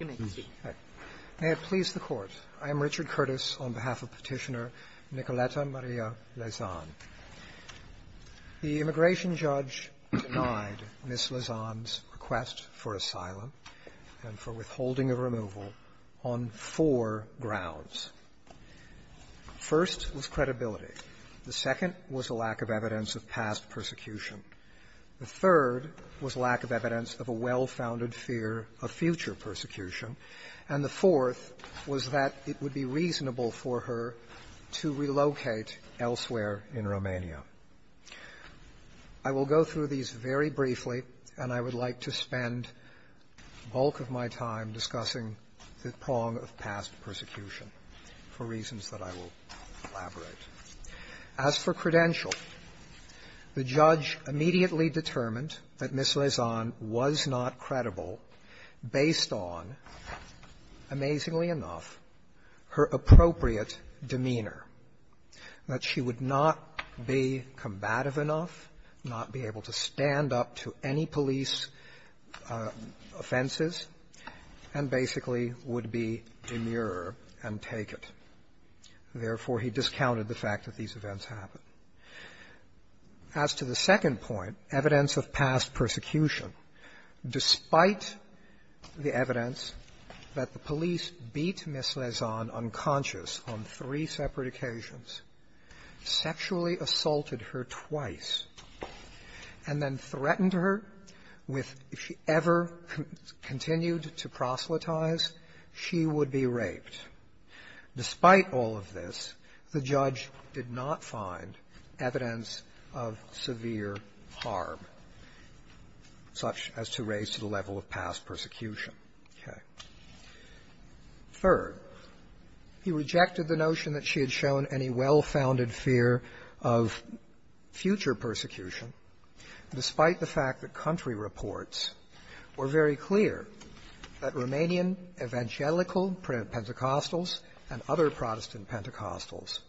May it please the Court, I am Richard Curtis on behalf of Petitioner Nicoleta Maria Lezan. The immigration judge denied Ms. Lezan's request for asylum and for withholding of removal on four grounds. First was credibility. The second was a lack of evidence of past persecution. The third was lack of evidence of a well-founded fear of future persecution. And the fourth was that it would be reasonable for her to relocate elsewhere in Romania. I will go through these very briefly, and I would like to spend the bulk of my time discussing the prong of past persecution for reasons that I will elaborate. As for credential, the judge immediately determined that Ms. Lezan was not credible based on, amazingly enough, her appropriate demeanor, that she would not be combative enough, not be able to stand up to any police offenses, and basically would be demure and take it. Therefore, he discounted the fact that these events happened. As to the second point, evidence of past persecution, despite the evidence that the police beat Ms. Lezan unconscious on three separate occasions, sexually assaulted her twice, and then threatened her with, if she ever continued to proselytize, she would be raped, despite all of this, the judge did not find evidence of severe harm such as to raise to the level of past persecution. Okay. Third, he rejected the notion that she had shown any well-founded fear of future persecution, despite the fact that country Pentecostals and other Protestant Pentecostals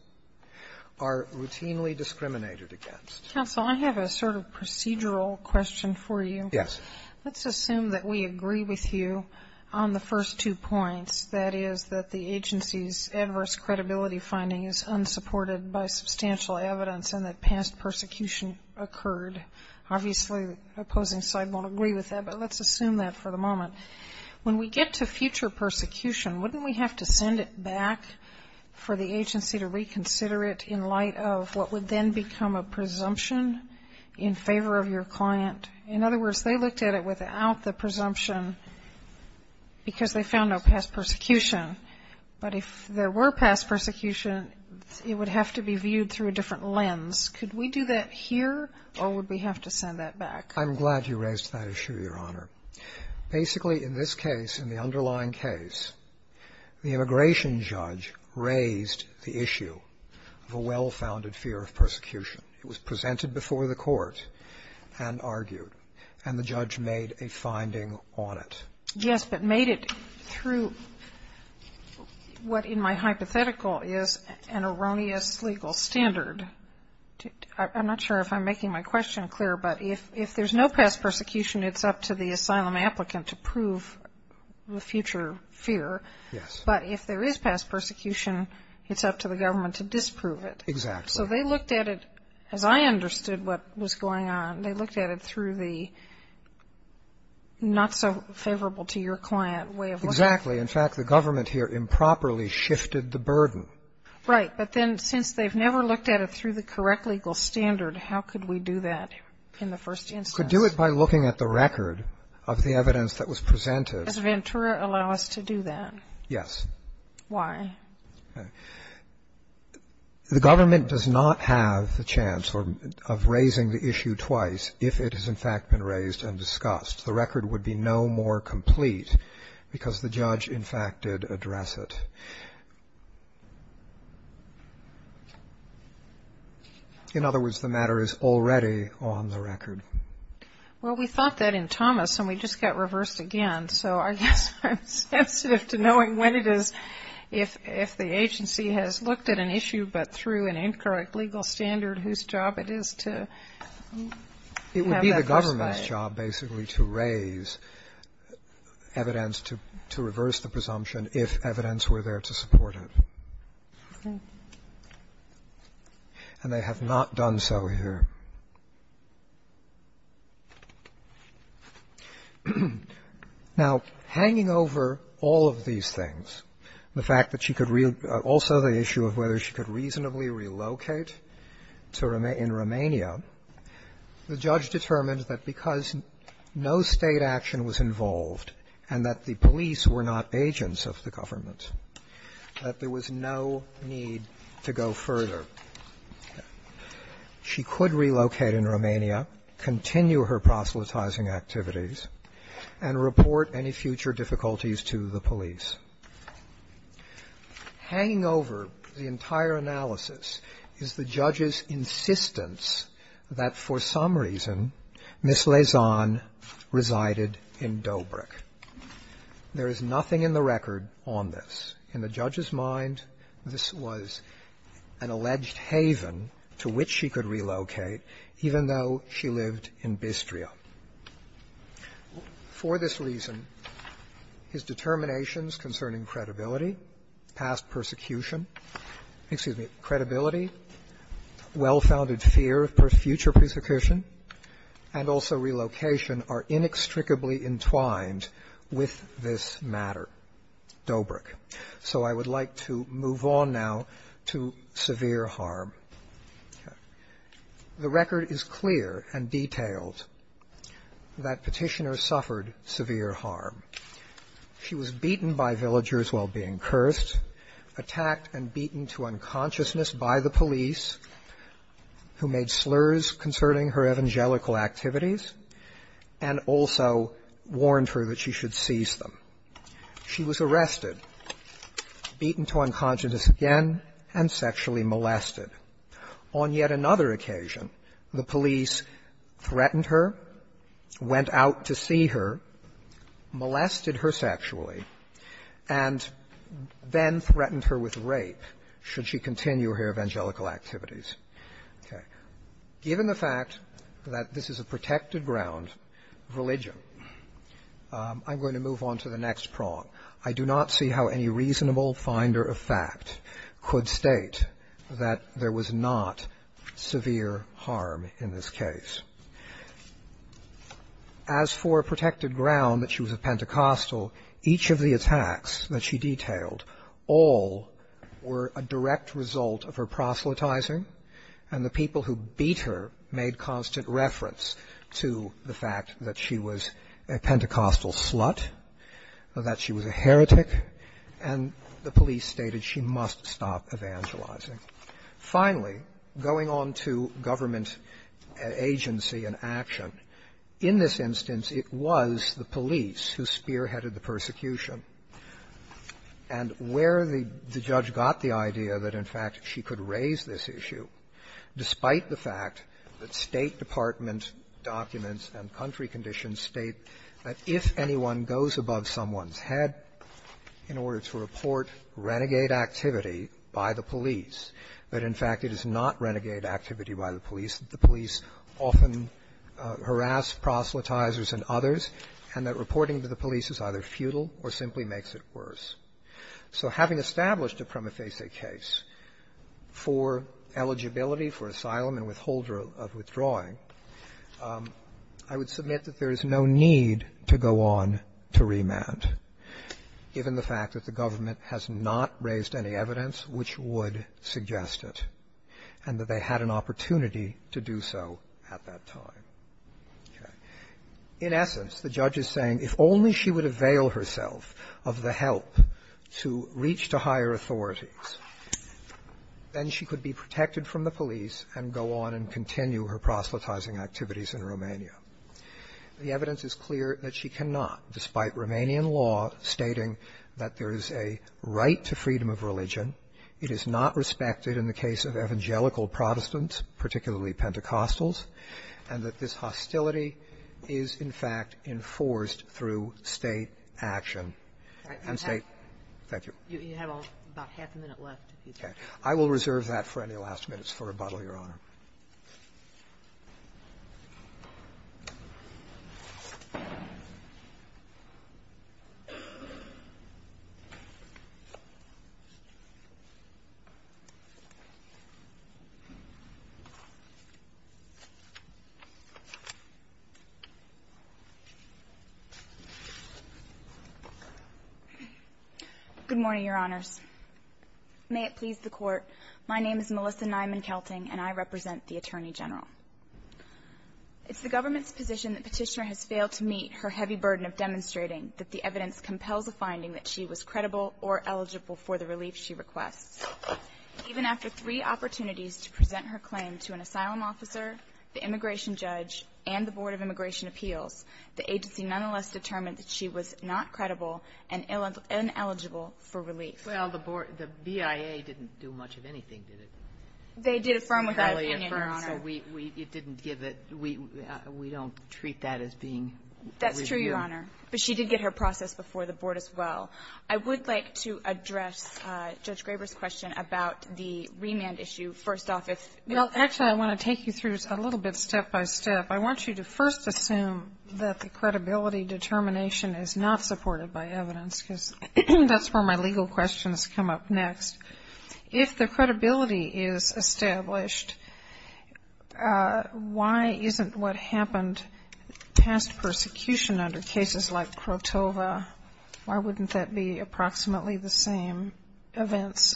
are routinely discriminated against. Kagan. Counsel, I have a sort of procedural question for you. Roberts. Yes. Kagan. Let's assume that we agree with you on the first two points, that is, that the agency's adverse credibility finding is unsupported by substantial evidence and that past persecution occurred. Obviously, the opposing side won't agree with that, but let's assume that for the moment. When we get to future persecution, wouldn't we have to send it back for the agency to reconsider it in light of what would then become a presumption in favor of your client? In other words, they looked at it without the presumption because they found no past persecution, but if there were past persecution, it would have to be viewed through a different lens. Could we do that here or would we have to send that back? Roberts. I'm glad you raised that issue, Your Honor. Basically, in this case, in the underlying case, the immigration judge raised the issue of a well-founded fear of persecution. It was presented before the Court and argued, and the judge made a finding on it. Kagan. Yes, but made it through what in my hypothetical is an erroneous legal standard. I'm not sure if I'm making my question clear, but if there's no past persecution, it's up to the government to disprove it. So they looked at it, as I understood what was going on, they looked at it through the not-so-favorable- to-your-client way of looking at it. Roberts. Exactly. In fact, the government here improperly shifted the burden. Kagan. Right, but then since they've never looked at it through the correct legal standard, how could we do that in the first instance? Roberts. You could do it by looking at the record of the evidence that was presented. Kagan. Does Ventura allow us to do that? Roberts. Yes. Kagan. Why? Roberts. The government does not have the chance of raising the issue twice if it has, in fact, been raised and discussed. The record would be no more complete because the judge, in fact, did address it. In other words, the matter is already on the record. Kagan. Well, we thought that in Thomas, and we just got reversed again. So I guess I'm sensitive to knowing when it is, if the agency has looked at an issue, but through an incorrect legal standard, whose job it is to have that persuaded. Roberts. It would be the government's job, basically, to raise evidence to reverse the presumption if evidence were there to support it. And they have not done so over here. Now, hanging over all of these things, the fact that she could real – also the issue of whether she could reasonably relocate to – in Romania, the judge determined that because no State action was involved and that the police were not agents of the government, that there was no need to go further. She could relocate in Romania, continue her proselytizing activities, and report any future difficulties to the police. Hanging over the entire analysis is the judge's insistence that for some reason Ms. Lezon resided in Dobrik. There is nothing in the record that suggests that Ms. Lezon In the judge's mind, this was an alleged haven to which she could relocate, even though she lived in Bistria. For this reason, his determinations concerning credibility, past persecution – excuse me, credibility, well-founded fear of future persecution, and also relocation are inextricably entwined with this matter. Dobrik. So I would like to move on now to severe harm. The record is clear and detailed that Petitioner suffered severe harm. She was beaten by villagers while being cursed, attacked and beaten to unconsciousness by the police, who made slurs concerning her evangelical activities and also warned her that she should seize them. She was arrested, beaten to unconsciousness again, and sexually molested. On yet another occasion, the police threatened her, went out to see her, molested her sexually, and then threatened her with rape should she continue her evangelical activities. Given the fact that this is a protected ground of religion, I'm going to move on to the next prong. I do not see how any reasonable finder of fact could state that there was not severe harm in this case. As for a protected ground that she was a Pentecostal, so each of the attacks that she detailed all were a direct result of her proselytizing, and the people who beat her made constant reference to the fact that she was a Pentecostal slut, that she was a heretic, and the police stated she must stop evangelizing. Finally, going on to government agency and action, in this instance it was the police who spearheaded the persecution. And where the judge got the idea that, in fact, she could raise this issue, despite the fact that State department documents and country conditions state that if anyone goes above someone's head in order to report renegade activity by the police, that in fact it is not renegade activity by the police, that the police often harass proselytizers and others, and that reporting to the police is either futile or simply makes it worse. So having established a prima facie case for eligibility for asylum and withholder of withdrawing, I would submit that there is no need to go on to remand, given the evidence is clear that she cannot, despite Romanian law stating that there is a right to freedom of religion, it is not respected in the case of evangelical Protestants, and that this hostility is, in fact, enforced through State action. Thank you. You have about half a minute left. Okay. I will reserve that for any last minutes for rebuttal, Your Honor. Good morning, Your Honors. May it please the Court, my name is Melissa Nyman-Kelting and I represent the Attorney General. It's the government's position that Petitioner has failed to meet her heavy burden of demonstrating that the evidence compels a finding that she was credible or eligible for the relief she requests. Even after three opportunities to present her claim to an asylum officer, the immigration judge, and the Board of Immigration Appeals, the agency nonetheless determined that she was not credible and ineligible for relief. Well, the BIA didn't do much of anything, did it? They did affirm with her opinion, Your Honor. So we didn't give it. We don't treat that as being with you. That's true, Your Honor. But she did get her process before the Board as well. I would like to address Judge Graber's question about the remand issue first off. Well, actually, I want to take you through it a little bit step by step. I want you to first assume that the credibility determination is not supported by evidence because that's where my legal questions come up next. If the credibility is established, why isn't what happened past persecution under cases like Krotova, why wouldn't that be approximately the same events?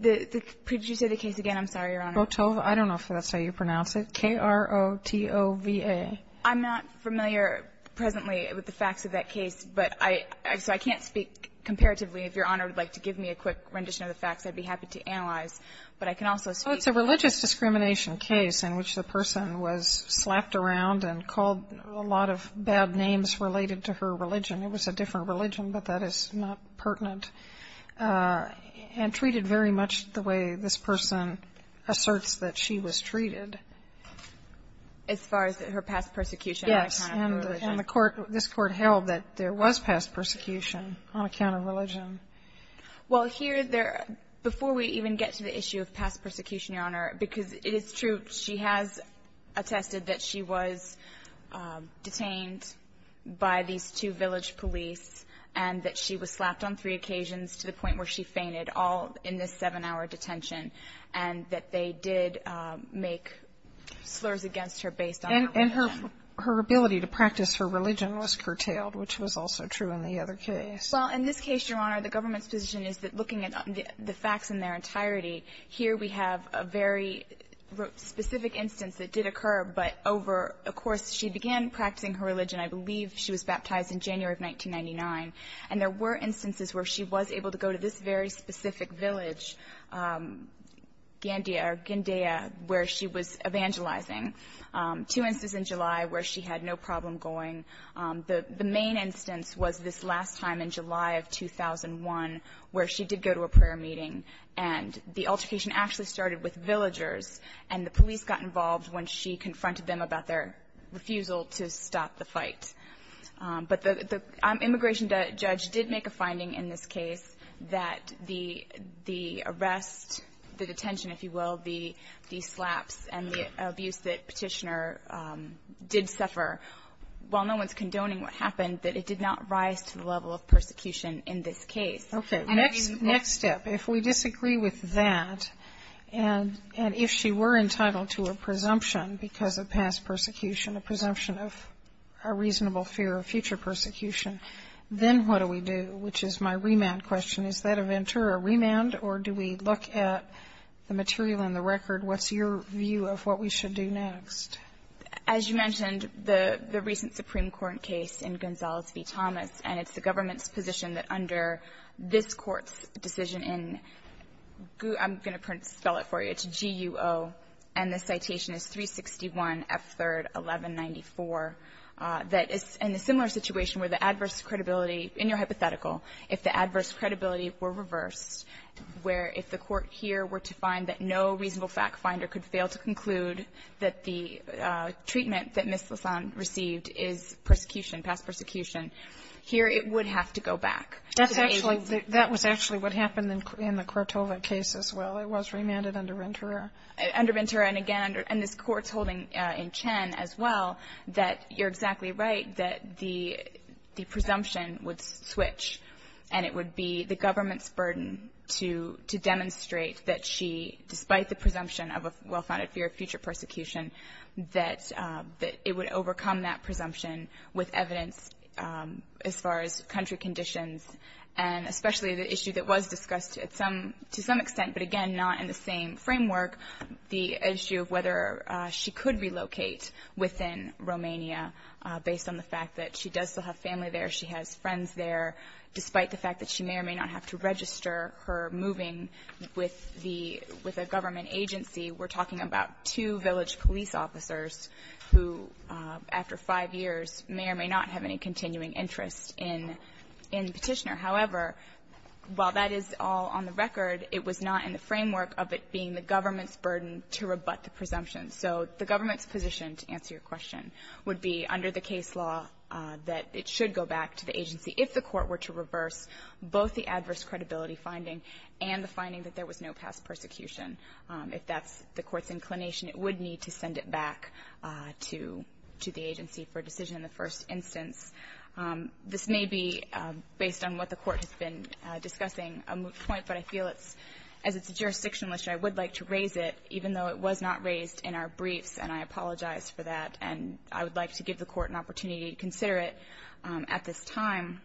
Could you say the case again? I'm sorry, Your Honor. Krotova. I don't know if that's how you pronounce it. K-r-o-t-o-v-a. I'm not familiar presently with the facts of that case, but I can't speak comparatively. If Your Honor would like to give me a quick rendition of the facts, I'd be happy to analyze, but I can also speak. Well, it's a religious discrimination case in which the person was slapped around and called a lot of bad names related to her religion. It was a different religion, but that is not pertinent. And treated very much the way this person asserts that she was treated. As far as her past persecution on account of her religion. Yes. And the court, this Court held that there was past persecution on account of religion. Well, here there, before we even get to the issue of past persecution, Your Honor, because it is true she has attested that she was detained by these two village police and that she was slapped on three occasions to the point where she fainted all in this seven-hour detention and that they did make slurs against her based on her religion. And her ability to practice her religion was curtailed, which was also true in the other case. Well, in this case, Your Honor, the government's position is that looking at the facts in their entirety, here we have a very specific instance that did occur, but over a course she began practicing her religion. I believe she was baptized in January of 1999. And there were instances where she was able to go to this very specific village, Gandia or Gandia, where she was evangelizing. Two instances in July where she had no problem going. The main instance was this last time in July of 2001 where she did go to a prayer meeting. And the altercation actually started with villagers, and the police got involved when she confronted them about their refusal to stop the fight. But the immigration judge did make a finding in this case that the arrest, the detention, if you will, the slaps and the abuse that Petitioner did suffer, while no one's condoning what happened, that it did not rise to the level of persecution in this case. Next step, if we disagree with that, and if she were entitled to a presumption because of past persecution, a presumption of a reasonable fear of future persecution, then what do we do? Which is my remand question. Is that a Ventura remand, or do we look at the material in the record? What's your view of what we should do next? As you mentioned, the recent Supreme Court case in Gonzales v. Thomas, and it's the government's position that under this Court's decision in GUO, I'm going to spell it for you, it's G-U-O, and the citation is 361 F. 3rd 1194, that in a similar situation where the adverse credibility, in your hypothetical, if the adverse credibility were reversed, where if the Court here were to find that no reasonable fact finder could fail to conclude that the treatment that Ms. Lasan received is persecution, past persecution, here it would have to go back. That's actually, that was actually what happened in the Crotova case as well. It was remanded under Ventura. Under Ventura, and again, and this Court's holding in Chen as well, that you're exactly right, that the presumption would switch, and it would be the government's burden to demonstrate that she, despite the presumption of a well-founded fear of future persecution, that it would overcome that presumption with evidence as far as country conditions, and especially the issue that was discussed to some extent, but again, not in the same framework, the issue of whether she could relocate within Romania based on the fact that she does still have family there, she has friends there, despite the fact that she may or may not have to register her moving with a government agency. We're talking about two village police officers who, after five years, may or may not have any continuing interest in Petitioner. However, while that is all on the record, it was not in the framework of it being the government's burden to rebut the presumption. So the government's position, to answer your question, would be under the case law that it should go back to the agency if the Court were to reverse both the adverse credibility finding and the finding that there was no past persecution. If that's the Court's inclination, it would need to send it back to the agency for a decision in the first instance. This may be based on what the Court has been discussing a point, but I feel it's as it's a jurisdictional issue, I would like to raise it, even though it was not raised in our briefs, and I apologize for that. And I would like to give the Court an opportunity to consider it at this time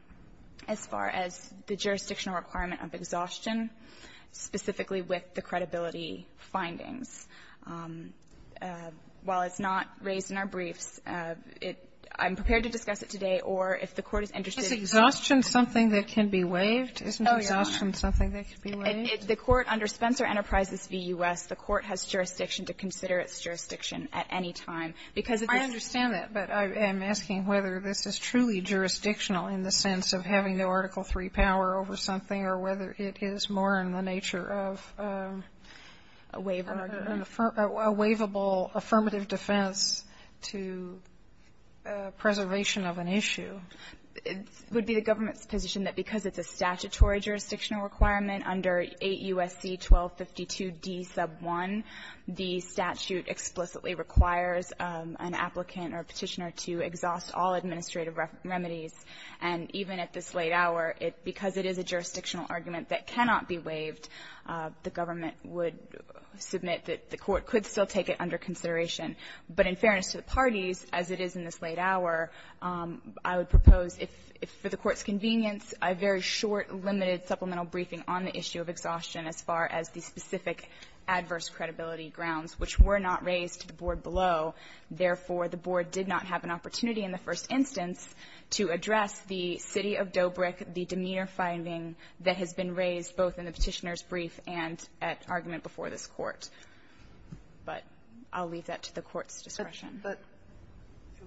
as far as the jurisdictional requirement of exhaustion, specifically with the credibility findings. While it's not raised in our briefs, it — I'm prepared to discuss it today, or if the Court is interested in — Sotomayor, is exhaustion something that can be waived? Isn't exhaustion something that can be waived? If the Court, under Spencer Enterprises v. U.S., the Court has jurisdiction to consider its jurisdiction at any time, because if it's — I understand that, but I'm asking whether this is truly jurisdictional in the sense of having no Article III power over something or whether it is more in the nature of a waiver, a waivable affirmative defense to preservation of an issue. It would be the government's position that because it's a statutory jurisdictional requirement under 8 U.S.C. 1252d sub 1, the statute explicitly requires an applicant or Petitioner to exhaust all administrative remedies. And even at this late hour, because it is a jurisdictional argument that cannot be waived, the government would submit that the Court could still take it under consideration. But in fairness to the parties, as it is in this late hour, I would propose if, for the Court's convenience, a very short, limited supplemental briefing on the issue of exhaustion as far as the specific adverse credibility grounds, which were not raised to the board below, therefore, the board did not have an opportunity in the first instance to address the city of Dobrick, the demeanor finding that has been raised both in the Petitioner's brief and at argument before this Court. But I'll leave that to the Court's discretion. But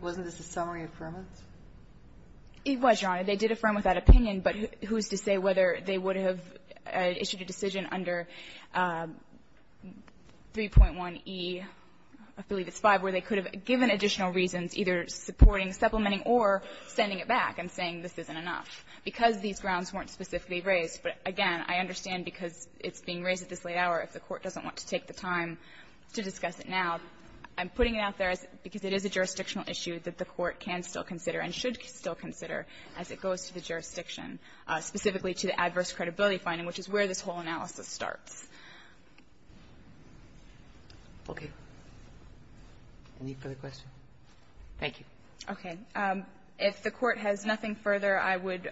wasn't this a summary affirmance? It was, Your Honor. They did affirm with that opinion, but who is to say whether they would have issued a decision under 3.1e, I believe it's 5, where they could have given additional reasons, either supporting, supplementing, or sending it back and saying this isn't enough? Because these grounds weren't specifically raised. But again, I understand because it's being raised at this late hour, if the Court doesn't want to take the time to discuss it now, I'm putting it out there because it is a jurisdictional issue that the Court can still consider and should still consider as it goes to the Okay. Any further questions? Thank you. Okay. If the Court has nothing further, I would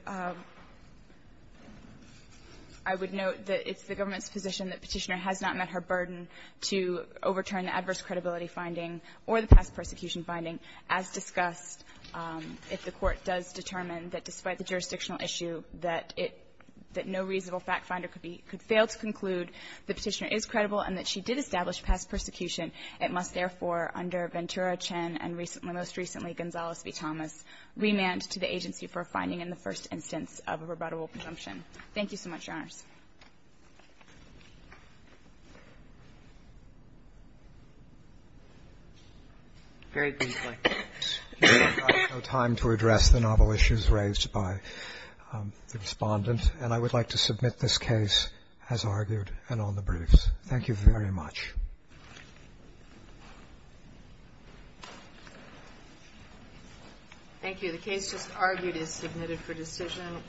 note that it's the government's position that Petitioner has not met her burden to overturn the adverse credibility finding or the past persecution finding. As discussed, if the Court does determine that despite the jurisdictional issue, that no reasonable fact finder could fail to conclude that Petitioner is credible and that she did establish past persecution, it must therefore, under Ventura, Chen, and most recently Gonzales v. Thomas, remand to the agency for a finding in the first instance of a rebuttable presumption. Thank you so much, Your Honors. Very briefly. We have no time to address the novel issues raised by the Respondent, and I would like to submit this case as argued and on the briefs. Thank you very much. Thank you. The case just argued is submitted for decision.